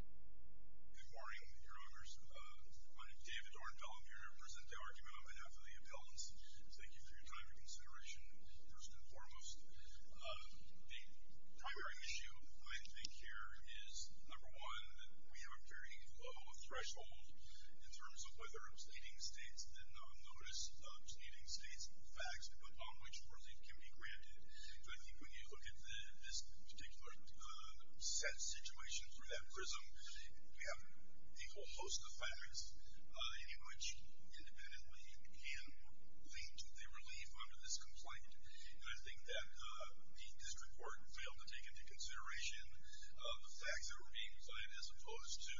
Good morning, your honors. My name is David Ornfeld. I'm here to present the argument of Annaphalia Peltz. Thank you for your time and consideration, first and foremost. The primary issue I think here is, number one, that we have a very low threshold in terms of whether stating states did not notice stating states' facts upon which worthy can be granted. I think when you look at this particular set situation through that prism, we have a whole host of facts in which, independently, you can lean to the relief under this complaint. And I think that the district court failed to take into consideration the facts that were being provided as opposed to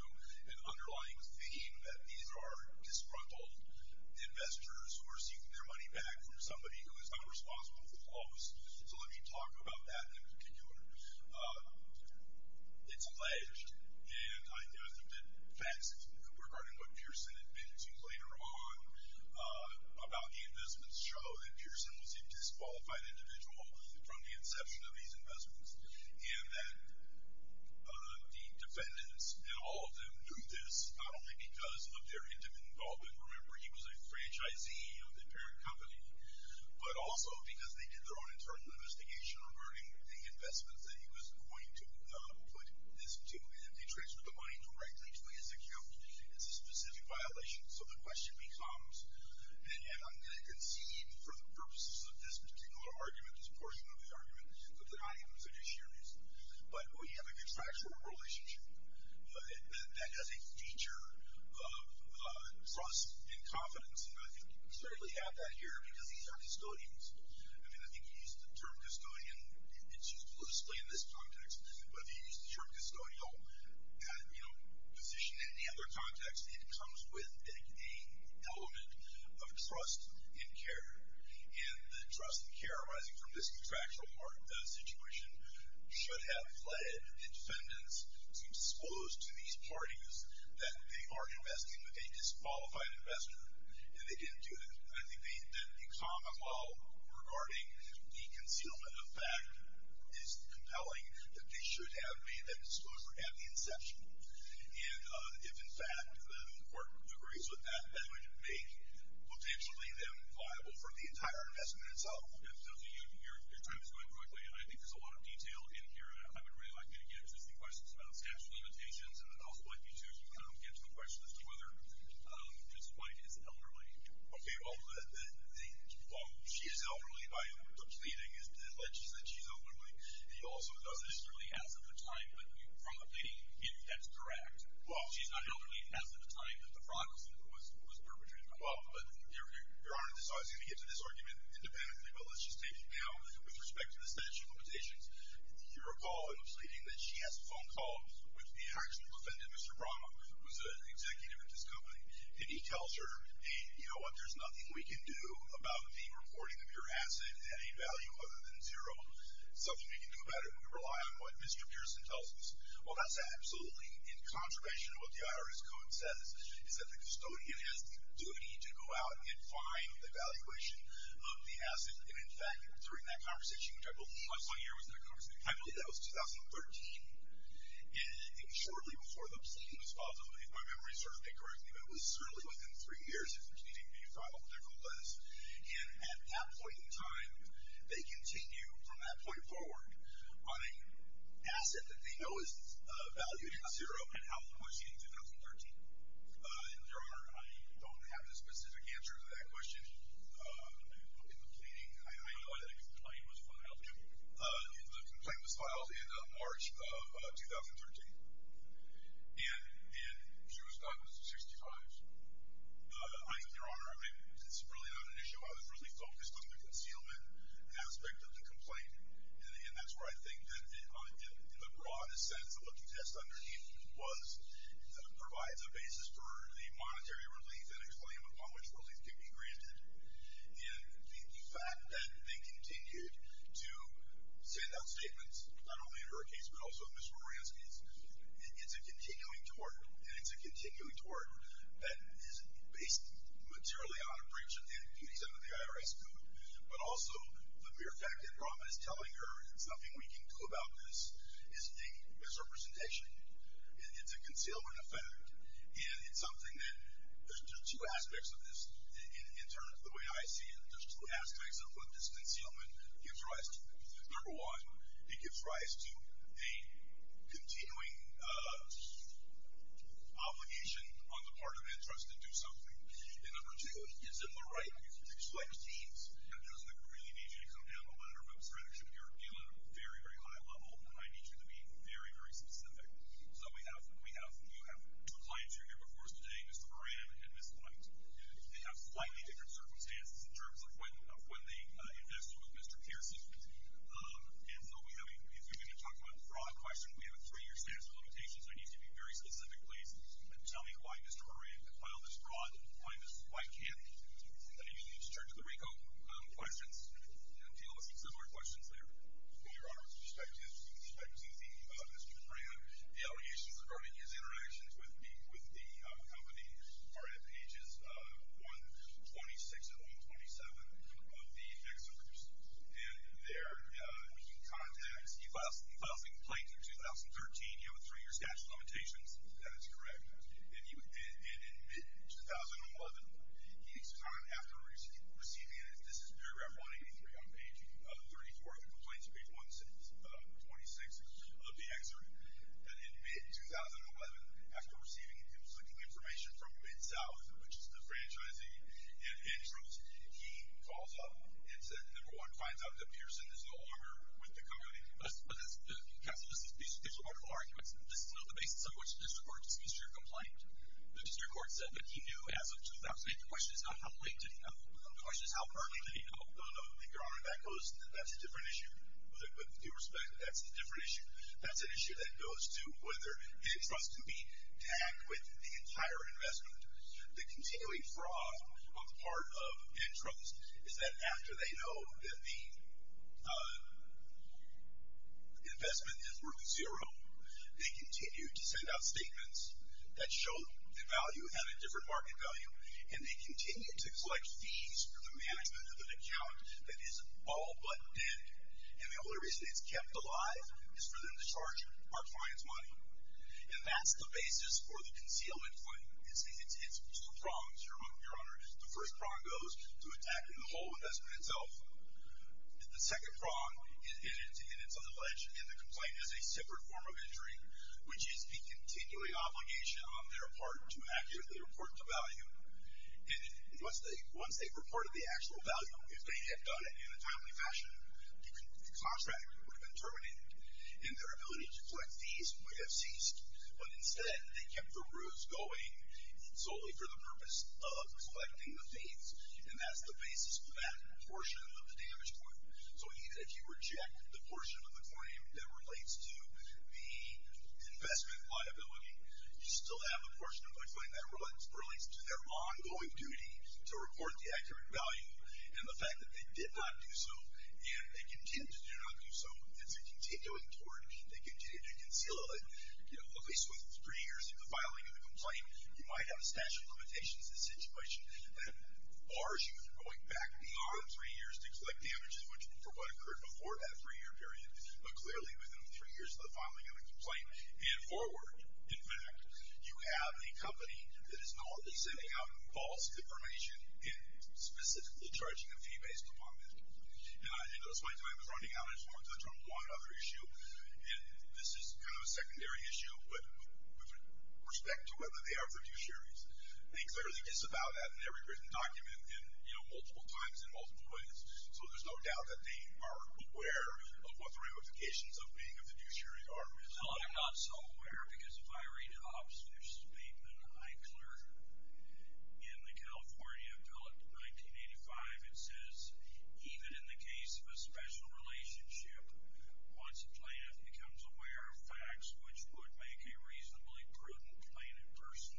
an underlying theme that these are disgruntled investors who are seeking their money back from somebody who is not responsible for the loss. So let me talk about that in particular. It's alleged, and I think that facts regarding what Pearson admitted to later on about the investments show that Pearson was a disqualified individual from the inception of these investments, and that the defendants and all of them knew this not only because of their intimate involvement. Remember, he was a franchisee of the parent company, but also because they did their own internal investigation regarding the investments that he was going to put this to. And if they transfer the money directly to his account, it's a specific violation. So the question becomes, and I'm going to concede for the purposes of this particular argument, this portion of the argument, that the arguments are disheartening. But we have a contractual relationship that has a feature of trust and confidence, and I think we certainly have that here because these are custodians. I mean, I think you used the term custodian, and it's useful to explain this context, but if you use the term custodial and position it in any other context, and the trust and care arising from this contractual part of the situation should have led the defendants to expose to these parties that they are investing with a disqualified investor, and they didn't do that. I think that the common law regarding the concealment of fact is compelling, that they should have made that disclosure at the inception. And if, in fact, the court agrees with that, that would make, potentially, them viable for the entire investment itself. Your time is going quickly, and I think there's a lot of detail in here. I would really like to get to some questions about statute of limitations, and I'd also like you to get to the question as to whether Ms. White is elderly. Okay, well, she is elderly. My reasoning is that she's elderly. She's not elderly as of the time that the fraud was perpetrated. Your Honor, I was going to get to this argument independently, but let's just take it now with respect to the statute of limitations. You recall in the pleading that she has a phone call with the actual defendant, Mr. Brahma, who was an executive at this company, and he tells her, hey, you know what, there's nothing we can do about the reporting of your asset at a value other than zero. There's nothing we can do about it, and we rely on what Mr. Pearson tells us. Well, that's absolutely incontrovertible. What the IRS code says is that the custodian has the duty to go out and find the valuation of the asset. And, in fact, during that conversation, which I believe was my year, I believe that was 2013, and it was shortly before the pleading was filed, if my memory serves me correctly, but it was certainly within three years And at that point in time, they continue from that point forward on an asset that they know is valued at zero, and how much in 2013. And, Your Honor, I don't have the specific answer to that question. In the pleading, I know that a complaint was filed. The complaint was filed in March of 2013, and she was caught in the 65s. Your Honor, it's really not an issue. I was really focused on the concealment aspect of the complaint, and that's where I think that, in the broadest sense, what the test underneath was provides a basis for the monetary relief and a claim upon which relief can be granted. And the fact that they continued to send out statements, not only under a case, but also in Mr. Moransky's, it's a continuing tort, and it's a continuing tort that is based materially on a breach of the IRS Code, but also the mere fact that Rahma is telling her there's nothing we can do about this is a misrepresentation. It's a concealment effect, and it's something that, there's two aspects of this in terms of the way I see it. There's two aspects of what this concealment gives rise to. Number one, it gives rise to a continuing obligation on the part of interest to do something. And number two, it gives them the right to select teams. I don't think we really need you to come down the ladder, but, Mr. Reddick, you're dealing at a very, very high level, and I need you to be very, very specific. So we have two clients who are here before us today, Mr. Moran and Ms. Blunt. They have slightly different circumstances in terms of when they invested with Mr. Pearson. And so if you're going to talk about a fraud question, we have a three-year statute of limitations. I need you to be very specific, please, and tell me why Mr. Moran filed this fraud. Why can't he? I need you to turn to the RICO questions and deal with some similar questions there. Well, Your Honor, with respect to Mr. Moran, the allegations regarding his interactions with me, with the company, are at pages 126 and 127 of the excerpts. And there he contacts... He files a complaint in 2013. You have a three-year statute of limitations. That is correct. And in mid-2011, each time after receiving it, this is paragraph 183 on page 34 of the complaint, page 126 of the excerpt, that in mid-2011, after receiving information from MidSouth, which is the franchising and intros, he calls up and says, number one, finds out that Pearson is no longer with the company. But that's... There's a lot of arguments. This is not the basis on which the district court dismissed your complaint. The district court said that he knew as of 2008. The question is not how late did he know. The question is how early did he know. No, no, no, Your Honor, that's a different issue. With due respect, that's a different issue. That's an issue that goes to whether the trust can be tagged with the entire investment. The continuing fraud on the part of intros is that after they know that the investment is worth zero, they continue to send out statements that show the value at a different market value, and they continue to collect fees for the management of an account that is all but dead. And the only reason it's kept alive is for them to charge our clients money. And that's the basis for the concealment claim, it's two prongs, Your Honor. The first prong goes to attacking the whole investment itself. The second prong, and it's on the ledge, and the complaint is a separate form of injury, which is the continuing obligation on their part to accurately report the value. And once they've reported the actual value, if they had done it in a timely fashion, the contract would have been terminated, and their ability to collect fees would have ceased. But instead, they kept the ruse going solely for the purpose of collecting the fees, and that's the basis for that portion of the damage point. So even if you reject the portion of the claim that relates to the investment liability, you still have a portion of the complaint that relates to their ongoing duty to record the accurate value, and the fact that they did not do so, and they continue to do not do so, it's a continuing tort. They continue to conceal it. At least within three years of the filing of the complaint, you might have a statute of limitations in this situation that bars you from going back beyond three years to collect damages for what occurred before that three-year period, but clearly within three years of the filing of the complaint and forward. In fact, you have a company that is not sending out false information and specifically charging a fee-based component. And I did this my time as running out. This is kind of a secondary issue with respect to whether they are fiduciaries. They clearly disavow that in every written document and, you know, multiple times in multiple places. So there's no doubt that they are aware of what the ramifications of being a fiduciary are. Well, they're not so aware, because if I read Obstuch's statement, I cleared it. In the California Bill of 1985, it says, Even in the case of a special relationship, once a plaintiff becomes aware of facts which would make a reasonably prudent plaintiff person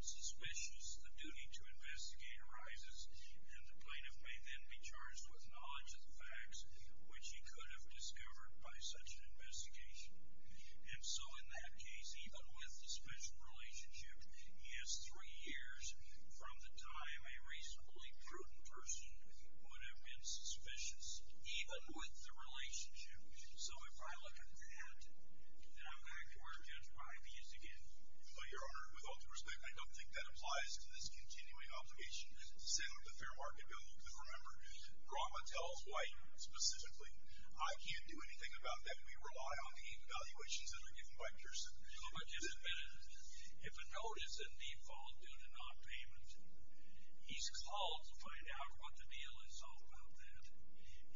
suspicious, the duty to investigate arises, and the plaintiff may then be charged with knowledge of the facts which he could have discovered by such an investigation. And so in that case, even with a special relationship, he has three years from the time where a reasonably prudent person would have been suspicious, even with the relationship. So if I look at that, then I'm going to want to judge my views again. But, Your Honor, with all due respect, I don't think that applies to this continuing obligation to sit on the Fair Market Bill. Remember, drama tells why, specifically. I can't do anything about that. We rely on the evaluations that are given by Pearson. Well, but just admit it. If a note is in default due to nonpayment, he's called to find out what the deal is all about then.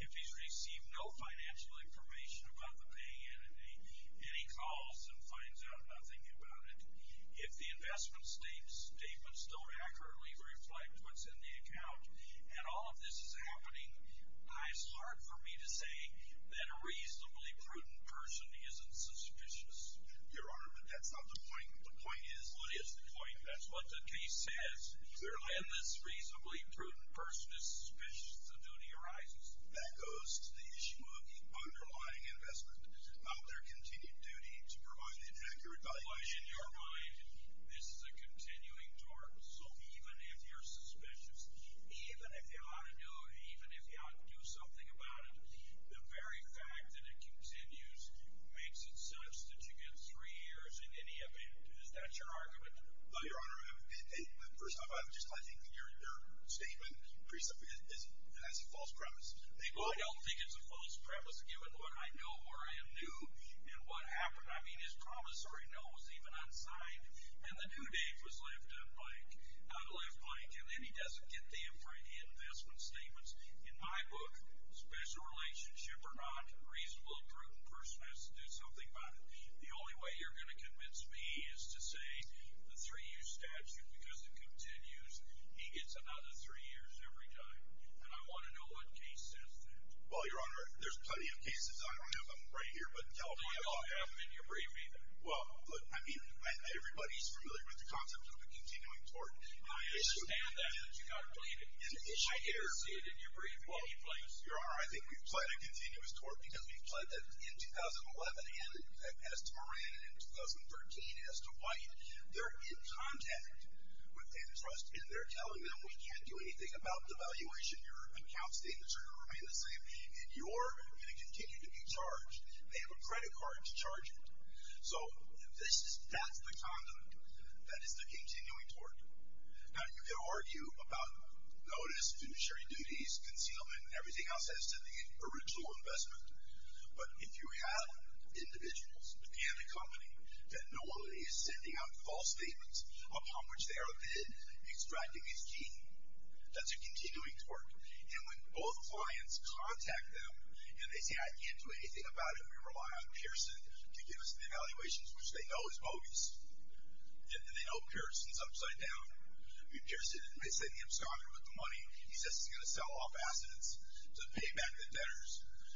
If he's received no financial information about the paying entity, then he calls and finds out nothing about it. If the investment statement still accurately reflects what's in the account, and all of this is happening, it's hard for me to say that a reasonably prudent person isn't suspicious. Your Honor, but that's not the point. The point is, that's what the case says. When this reasonably prudent person is suspicious, the duty arises. That goes to the issue of underlying investment. It's about their continued duty to provide an accurate valuation. But in your mind, this is a continuing tort. So even if you're suspicious, even if you ought to do something about it, the very fact that it continues makes it such that you get three years in any event. Is that your argument? Your Honor, first off, I just like to think that your statement pretty simply has a false premise. Well, I don't think it's a false premise, given what I know, where I am new, and what happened. I mean, his promissory note was even unsigned, and the due date was left blank. Not left blank. And then he doesn't get the investment statements. In my book, special relationship or not, reasonable prudent person has to do something about it. The only way you're going to convince me is to say the three-year statute, because it continues, he gets another three years every time. And I want to know what case says that. Well, your Honor, there's plenty of cases. I don't know if I'm right here, but in California... I don't think I'll have them in your brief either. Well, look, I mean, everybody's familiar with the concept of a continuing tort. I understand that, but you've got to believe it. And I hear... I don't see it in your brief in any place. Your Honor, I think we've pled a continuous tort because we've pled that in 2011, as to Moran, and in 2013, as to White. They're in contact with a trust, and they're telling them, we can't do anything about devaluation. Your accounts statements are going to remain the same, and you're going to continue to be charged. They have a credit card to charge it. So, that's the condom. That is the continuing tort. Now, you could argue about notice, finishery duties, concealment, everything else has to do with the original investment. But if you have individuals and a company that no one is sending out false statements upon which they are bid, extracting is keen. That's a continuing tort. And when both clients contact them, and they say, I can't do anything about it, we rely on Pearson to give us the valuations, which they know is bogus. And they know Pearson's upside down. I mean, Pearson, they say, him, Scott, who put the money, he says he's going to sell off assets to pay back the debtors.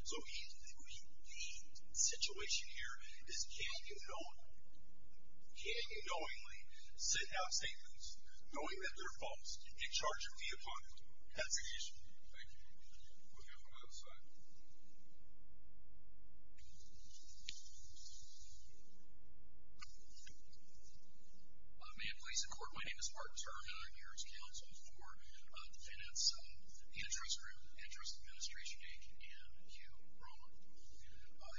So, the situation here is, can't you know it? Can't you knowingly send out statements knowing that they're false, and charge a fee upon them? That's the issue. Thank you. We'll go to the other side. May it please the Court, my name is Martin Turner, and I'm here as counsel for defendants in the interest group, and Hugh Rowan.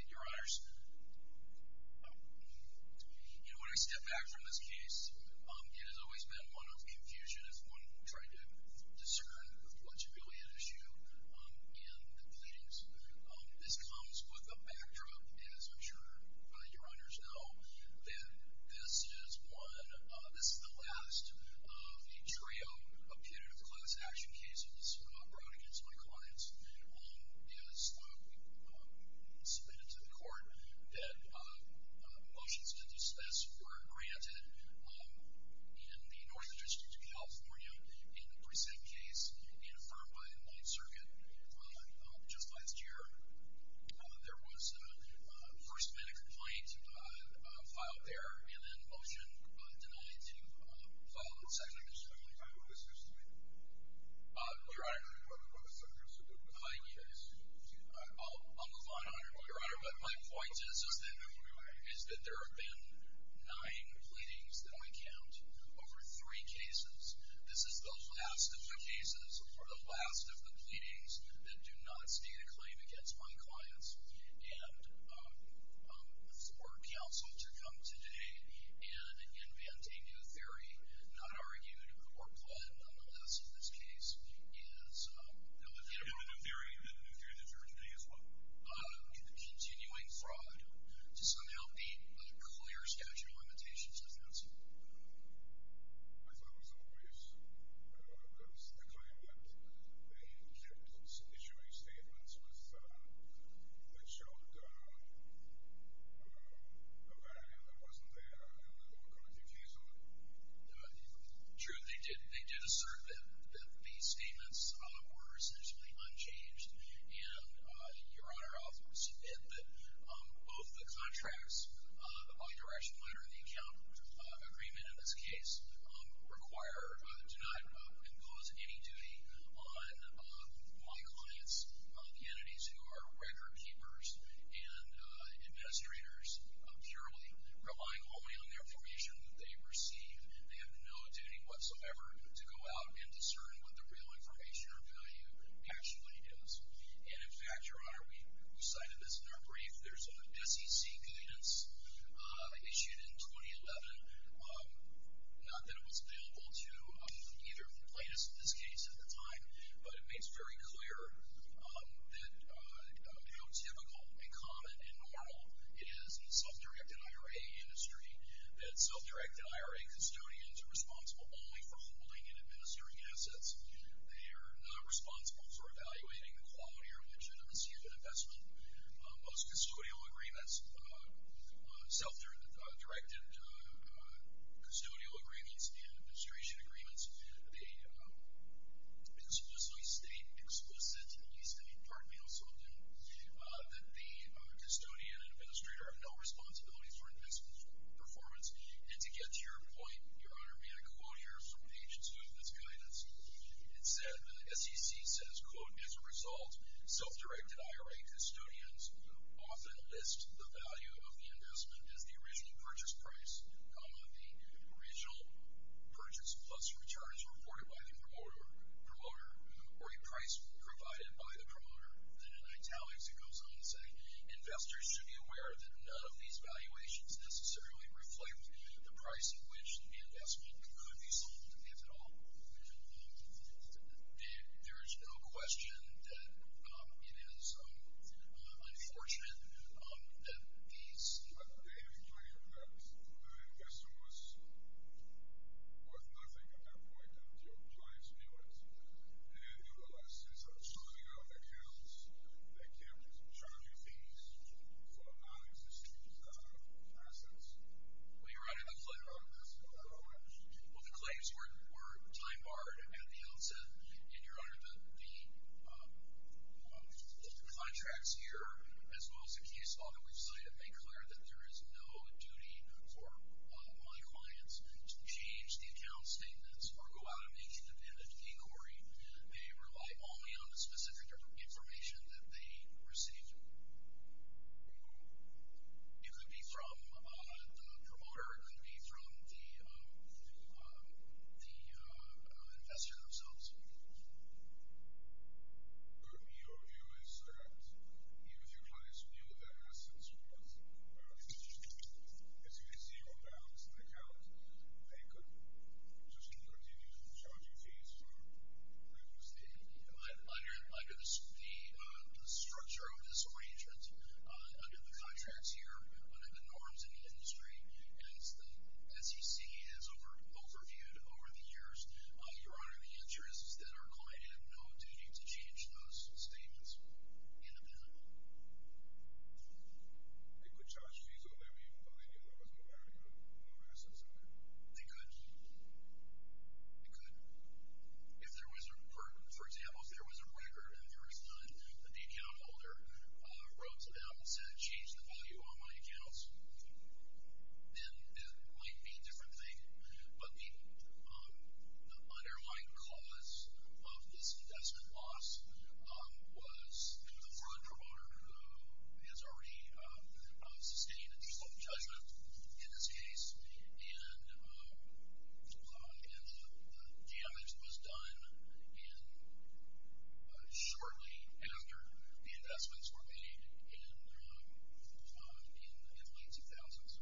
Your Honors, you know, when I step back from this case, it has always been one of confusion, as one tried to discern what's really at issue in the pleadings. This comes with a backdrop, as I'm sure your Honors know, that this is one, this is the last of a trio of punitive class action cases brought against my clients. As submitted to the Court, that motions to dismiss were granted in the North District of California, in the Precinct case, and affirmed by the Ninth Circuit. Just last year, there was a first minute complaint filed there, and then a motion denied to file a second. I just want to clarify, who was who's complaint? Your Honor, I'll move on, Your Honor, but my point is, is that there have been nine pleadings, that I count, over three cases. This is the last of the cases, or the last of the pleadings, that do not stand a claim against my clients, and for counsel to come today and invent a new theory, not argued or planned, but nonetheless, in this case, is a new theory. And a new theory that you're arguing as well? A continuing fraud to somehow beat a clear statute of limitations does not stand a claim against my clients. As always, there was a claim that the plaintiff was issuing statements that showed a value that wasn't there in the punitive case, or? True, they did assert that these statements were essentially unchanged, and, Your Honor, both the contracts, the bi-directional under the account agreement, in this case, require to not impose any duty on my clients, the entities who are record keepers and administrators, purely relying only on the information that they receive. They have no duty whatsoever to go out and discern what the real information or value actually is. And, in fact, Your Honor, we cited this in our brief, there's a SEC guidance issued in 2011, not that it was available to either plaintiffs in this case at the time, but it makes very clear that how typical and common and normal it is in the self-directed IRA industry that self-directed IRA custodians are responsible only for holding and administering assets. They are not responsible for evaluating the quality or legitimacy of an investment. Most custodial agreements, self-directed custodial agreements and administration agreements, they explicitly state, explicit, at least in part, we also do, that the custodian and administrator have no responsibility for investment performance. And to get to your point, Your Honor, may I quote here from page two of this guidance? It said, SEC says, quote, as a result, self-directed IRA custodians often list the value of the investment as the original purchase price, the original purchase plus returns reported by the promoter, or a price provided by the promoter. Then in italics it goes on to say, investors should be aware that none of these valuations necessarily reflect the price at which the investment could be sold, if at all. There is no question that it is unfortunate that these... I have to tell you that the investor was worth nothing at that point and your clients knew it. And you realize, since I'm sorting out accounts, I can't charge you fees for non-existing assets. Well, Your Honor, the claims were time-barred at the outset. And Your Honor, the contracts here, as well as the case law that we've cited, make clear that there is no duty for my clients to change the account statements or go out and make independent inquiry. They rely only on the specific information that they receive. It could be from the promoter. It could be from the investor themselves. Your view is that even if your clients knew their assets were worth, as you can see, on balance in the account, they could just continue to charge you fees for... under the structure of disarrangement under the contracts here, under the norms in the industry, as the SEC has overviewed over the years. Your Honor, the answer is that our client had no duty to change those statements independently. They could charge fees whenever you told them that there was no value in the assets. They could. They could. If there was a... For example, if there was a breaker and there was none, and the account holder wrote to them and said, change the value on my accounts, then it might be a different thing. But the underlying cause of this investment loss was the fraud promoter who has already sustained a default judgment in this case and the damage was done shortly after the investments were made in the mid-2000s.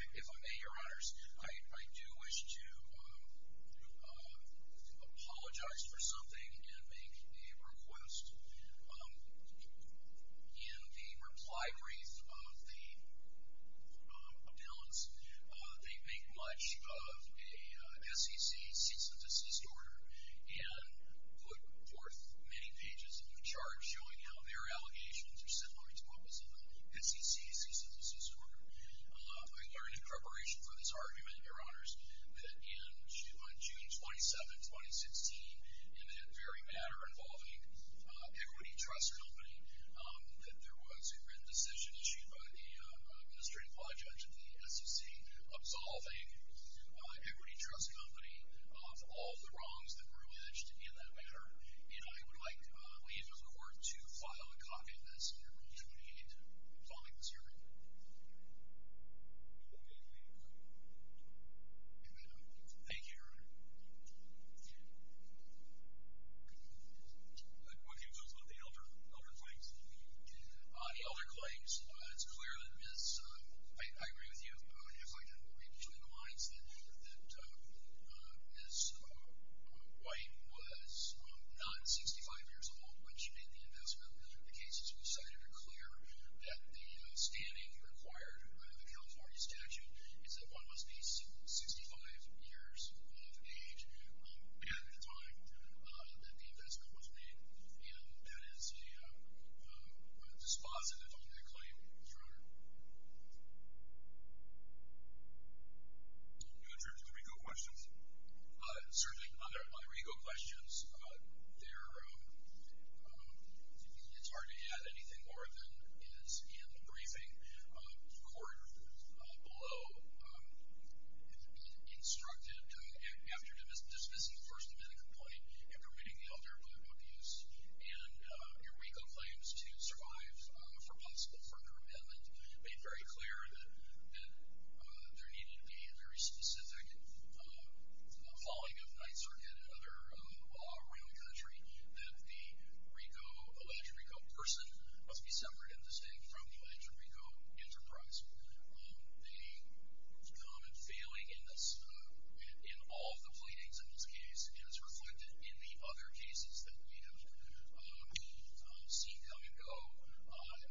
If I may, Your Honors, I do wish to apologize for something and make a request. In the reply brief of the announcement, they make much of a SEC cease-and-desist order and put forth many pages of the charge showing how their allegations are similarly to those of the SEC cease-and-desist order. We are in preparation for this argument, Your Honors, that in June 27, 2016, in that very matter involving Equity Trust Company, that there was a written decision issued by the Administrative Law Judge of the SEC absolving Equity Trust Company of all the wrongs that were alleged in that matter. And I would like to leave the Court to file a copy of this under Rule 28, absolving this argument. Thank you, Your Honor. Thank you. What do you think about the elder claims? The elder claims, it's clear that Ms. I agree with you, and I'd like to read between the lines that Ms. White was not 65 years old when she made the investment. The cases we cited are clear that the standing required by the California statute is that one must be 65 years of age at the time that the investment was made. And that is dispositive on that claim, Your Honor. Do you have any other legal questions? Certainly, other legal questions. It's hard to add anything more than The court below instructed after dismissing the First Amendment complaint and permitting the elder claim of use. And your RICO claims to survive for possible further amendment made very clear that there needed to be a very specific following of Ninth Circuit and other law around the country that the alleged RICO person must be separate and distinct from the alleged RICO enterprise. The common feeling in all of the pleadings in this case is reflected in the other cases that we have seen come and go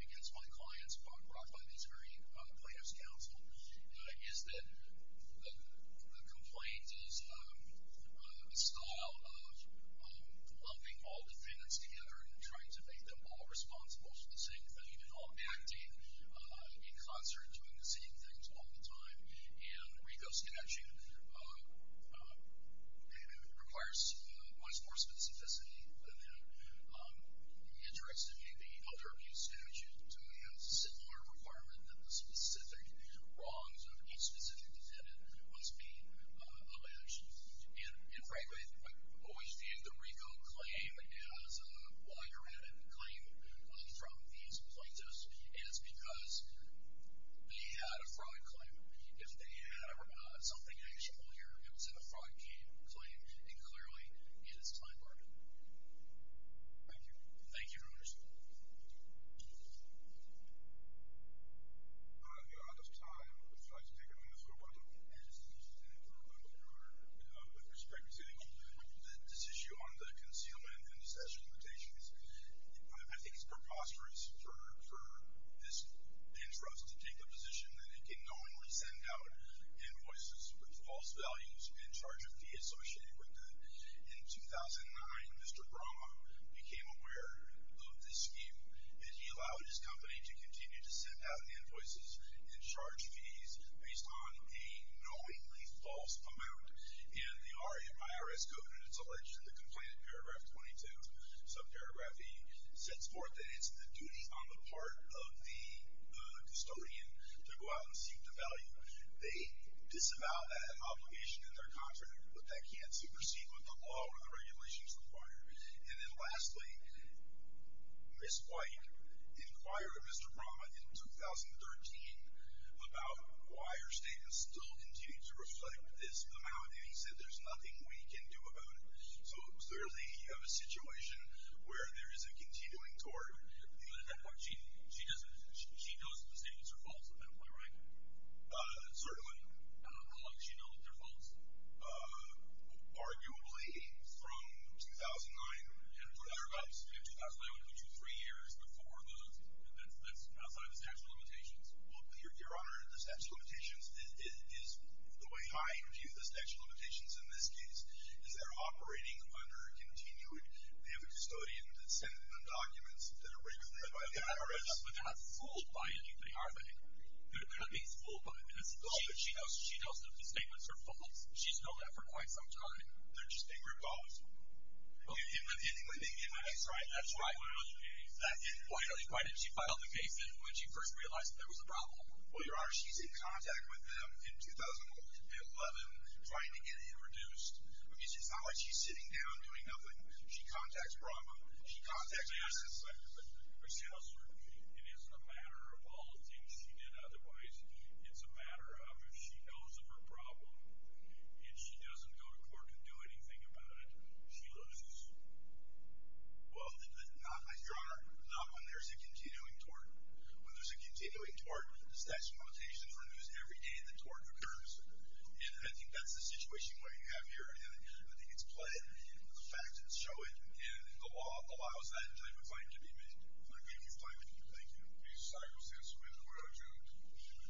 against my clients brought by the Missouri Plaintiffs' Council is that the complaint is a style of lumping all defendants together and trying to make them all responsible for the same thing and all acting in concert and doing the same things all the time. And the RICO statute requires much more specificity than it interacts with any other abuse statute. It demands a similar requirement that the specific wrongs of each specific defendant must be alleged. And frankly, I always viewed the RICO claim as a wire-added claim from these plaintiffs and it's because they had a fraud claim. If they had something actual here, it was in a fraud claim and clearly, it is time-burdened. Thank you. Thank you, Your Honor. Your Honor, at this time, if I could speak on this for a moment. Yes, please. Your Honor, with respect to this issue on the concealment and possession limitations, I think it's preposterous for this interest to take the position that it can knowingly send out invoices with false values and charge a fee associated with them. In 2009, Mr. Roma became aware of this view and he allowed his company to continue to send out invoices and charge fees based on a knowingly false amount. And the IRS code, and it's alleged that the complaint in paragraph 22, subparagraph E, sets forth that it's the duty on the part of the custodian to go out and seek the value. They disavow that obligation in their contract but they can't supersede what the law or the regulations require. And then lastly, Ms. White inquired of Mr. Brahma in 2013 about why her statement still continued to reflect this amount and he said there's nothing we can do about it. So it was clearly a situation where there is a continuing tort. But at that point, she knows that the statements are false, right? Certainly. How long does she know that they're false? Arguably from 2009. And 2009 would include three years before those. That's outside the statute of limitations. Well, Your Honor, the statute of limitations is the way I view the statute of limitations in this case. Is there operating under a continued, we have a custodian that's sending them documents that are written by the IRS. But they're not fooled by anybody, are they? They're not being fooled by the municipalities. She knows that the statements are false. She's known that for quite some time. They're just being recalled. In the case, right? That's right. Why did she file the case when she first realized there was a problem? Well, Your Honor, she's in contact with them in 2011 trying to get it reduced. I mean, it's not like she's sitting down doing nothing. She contacts Brahma. She contacts the assistant secretary. It is a matter of all the things she did otherwise. It's a matter of if she knows of her problem and she doesn't go to court and do anything about it, she loses. Well, Your Honor, not when there's a continuing tort. When there's a continuing tort, it's that confrontation where there's every day the tort occurs. And I think that's the situation you have here. And I think it's played. The facts show it. And the law allows that type of claim to be made. Thank you. Thank you.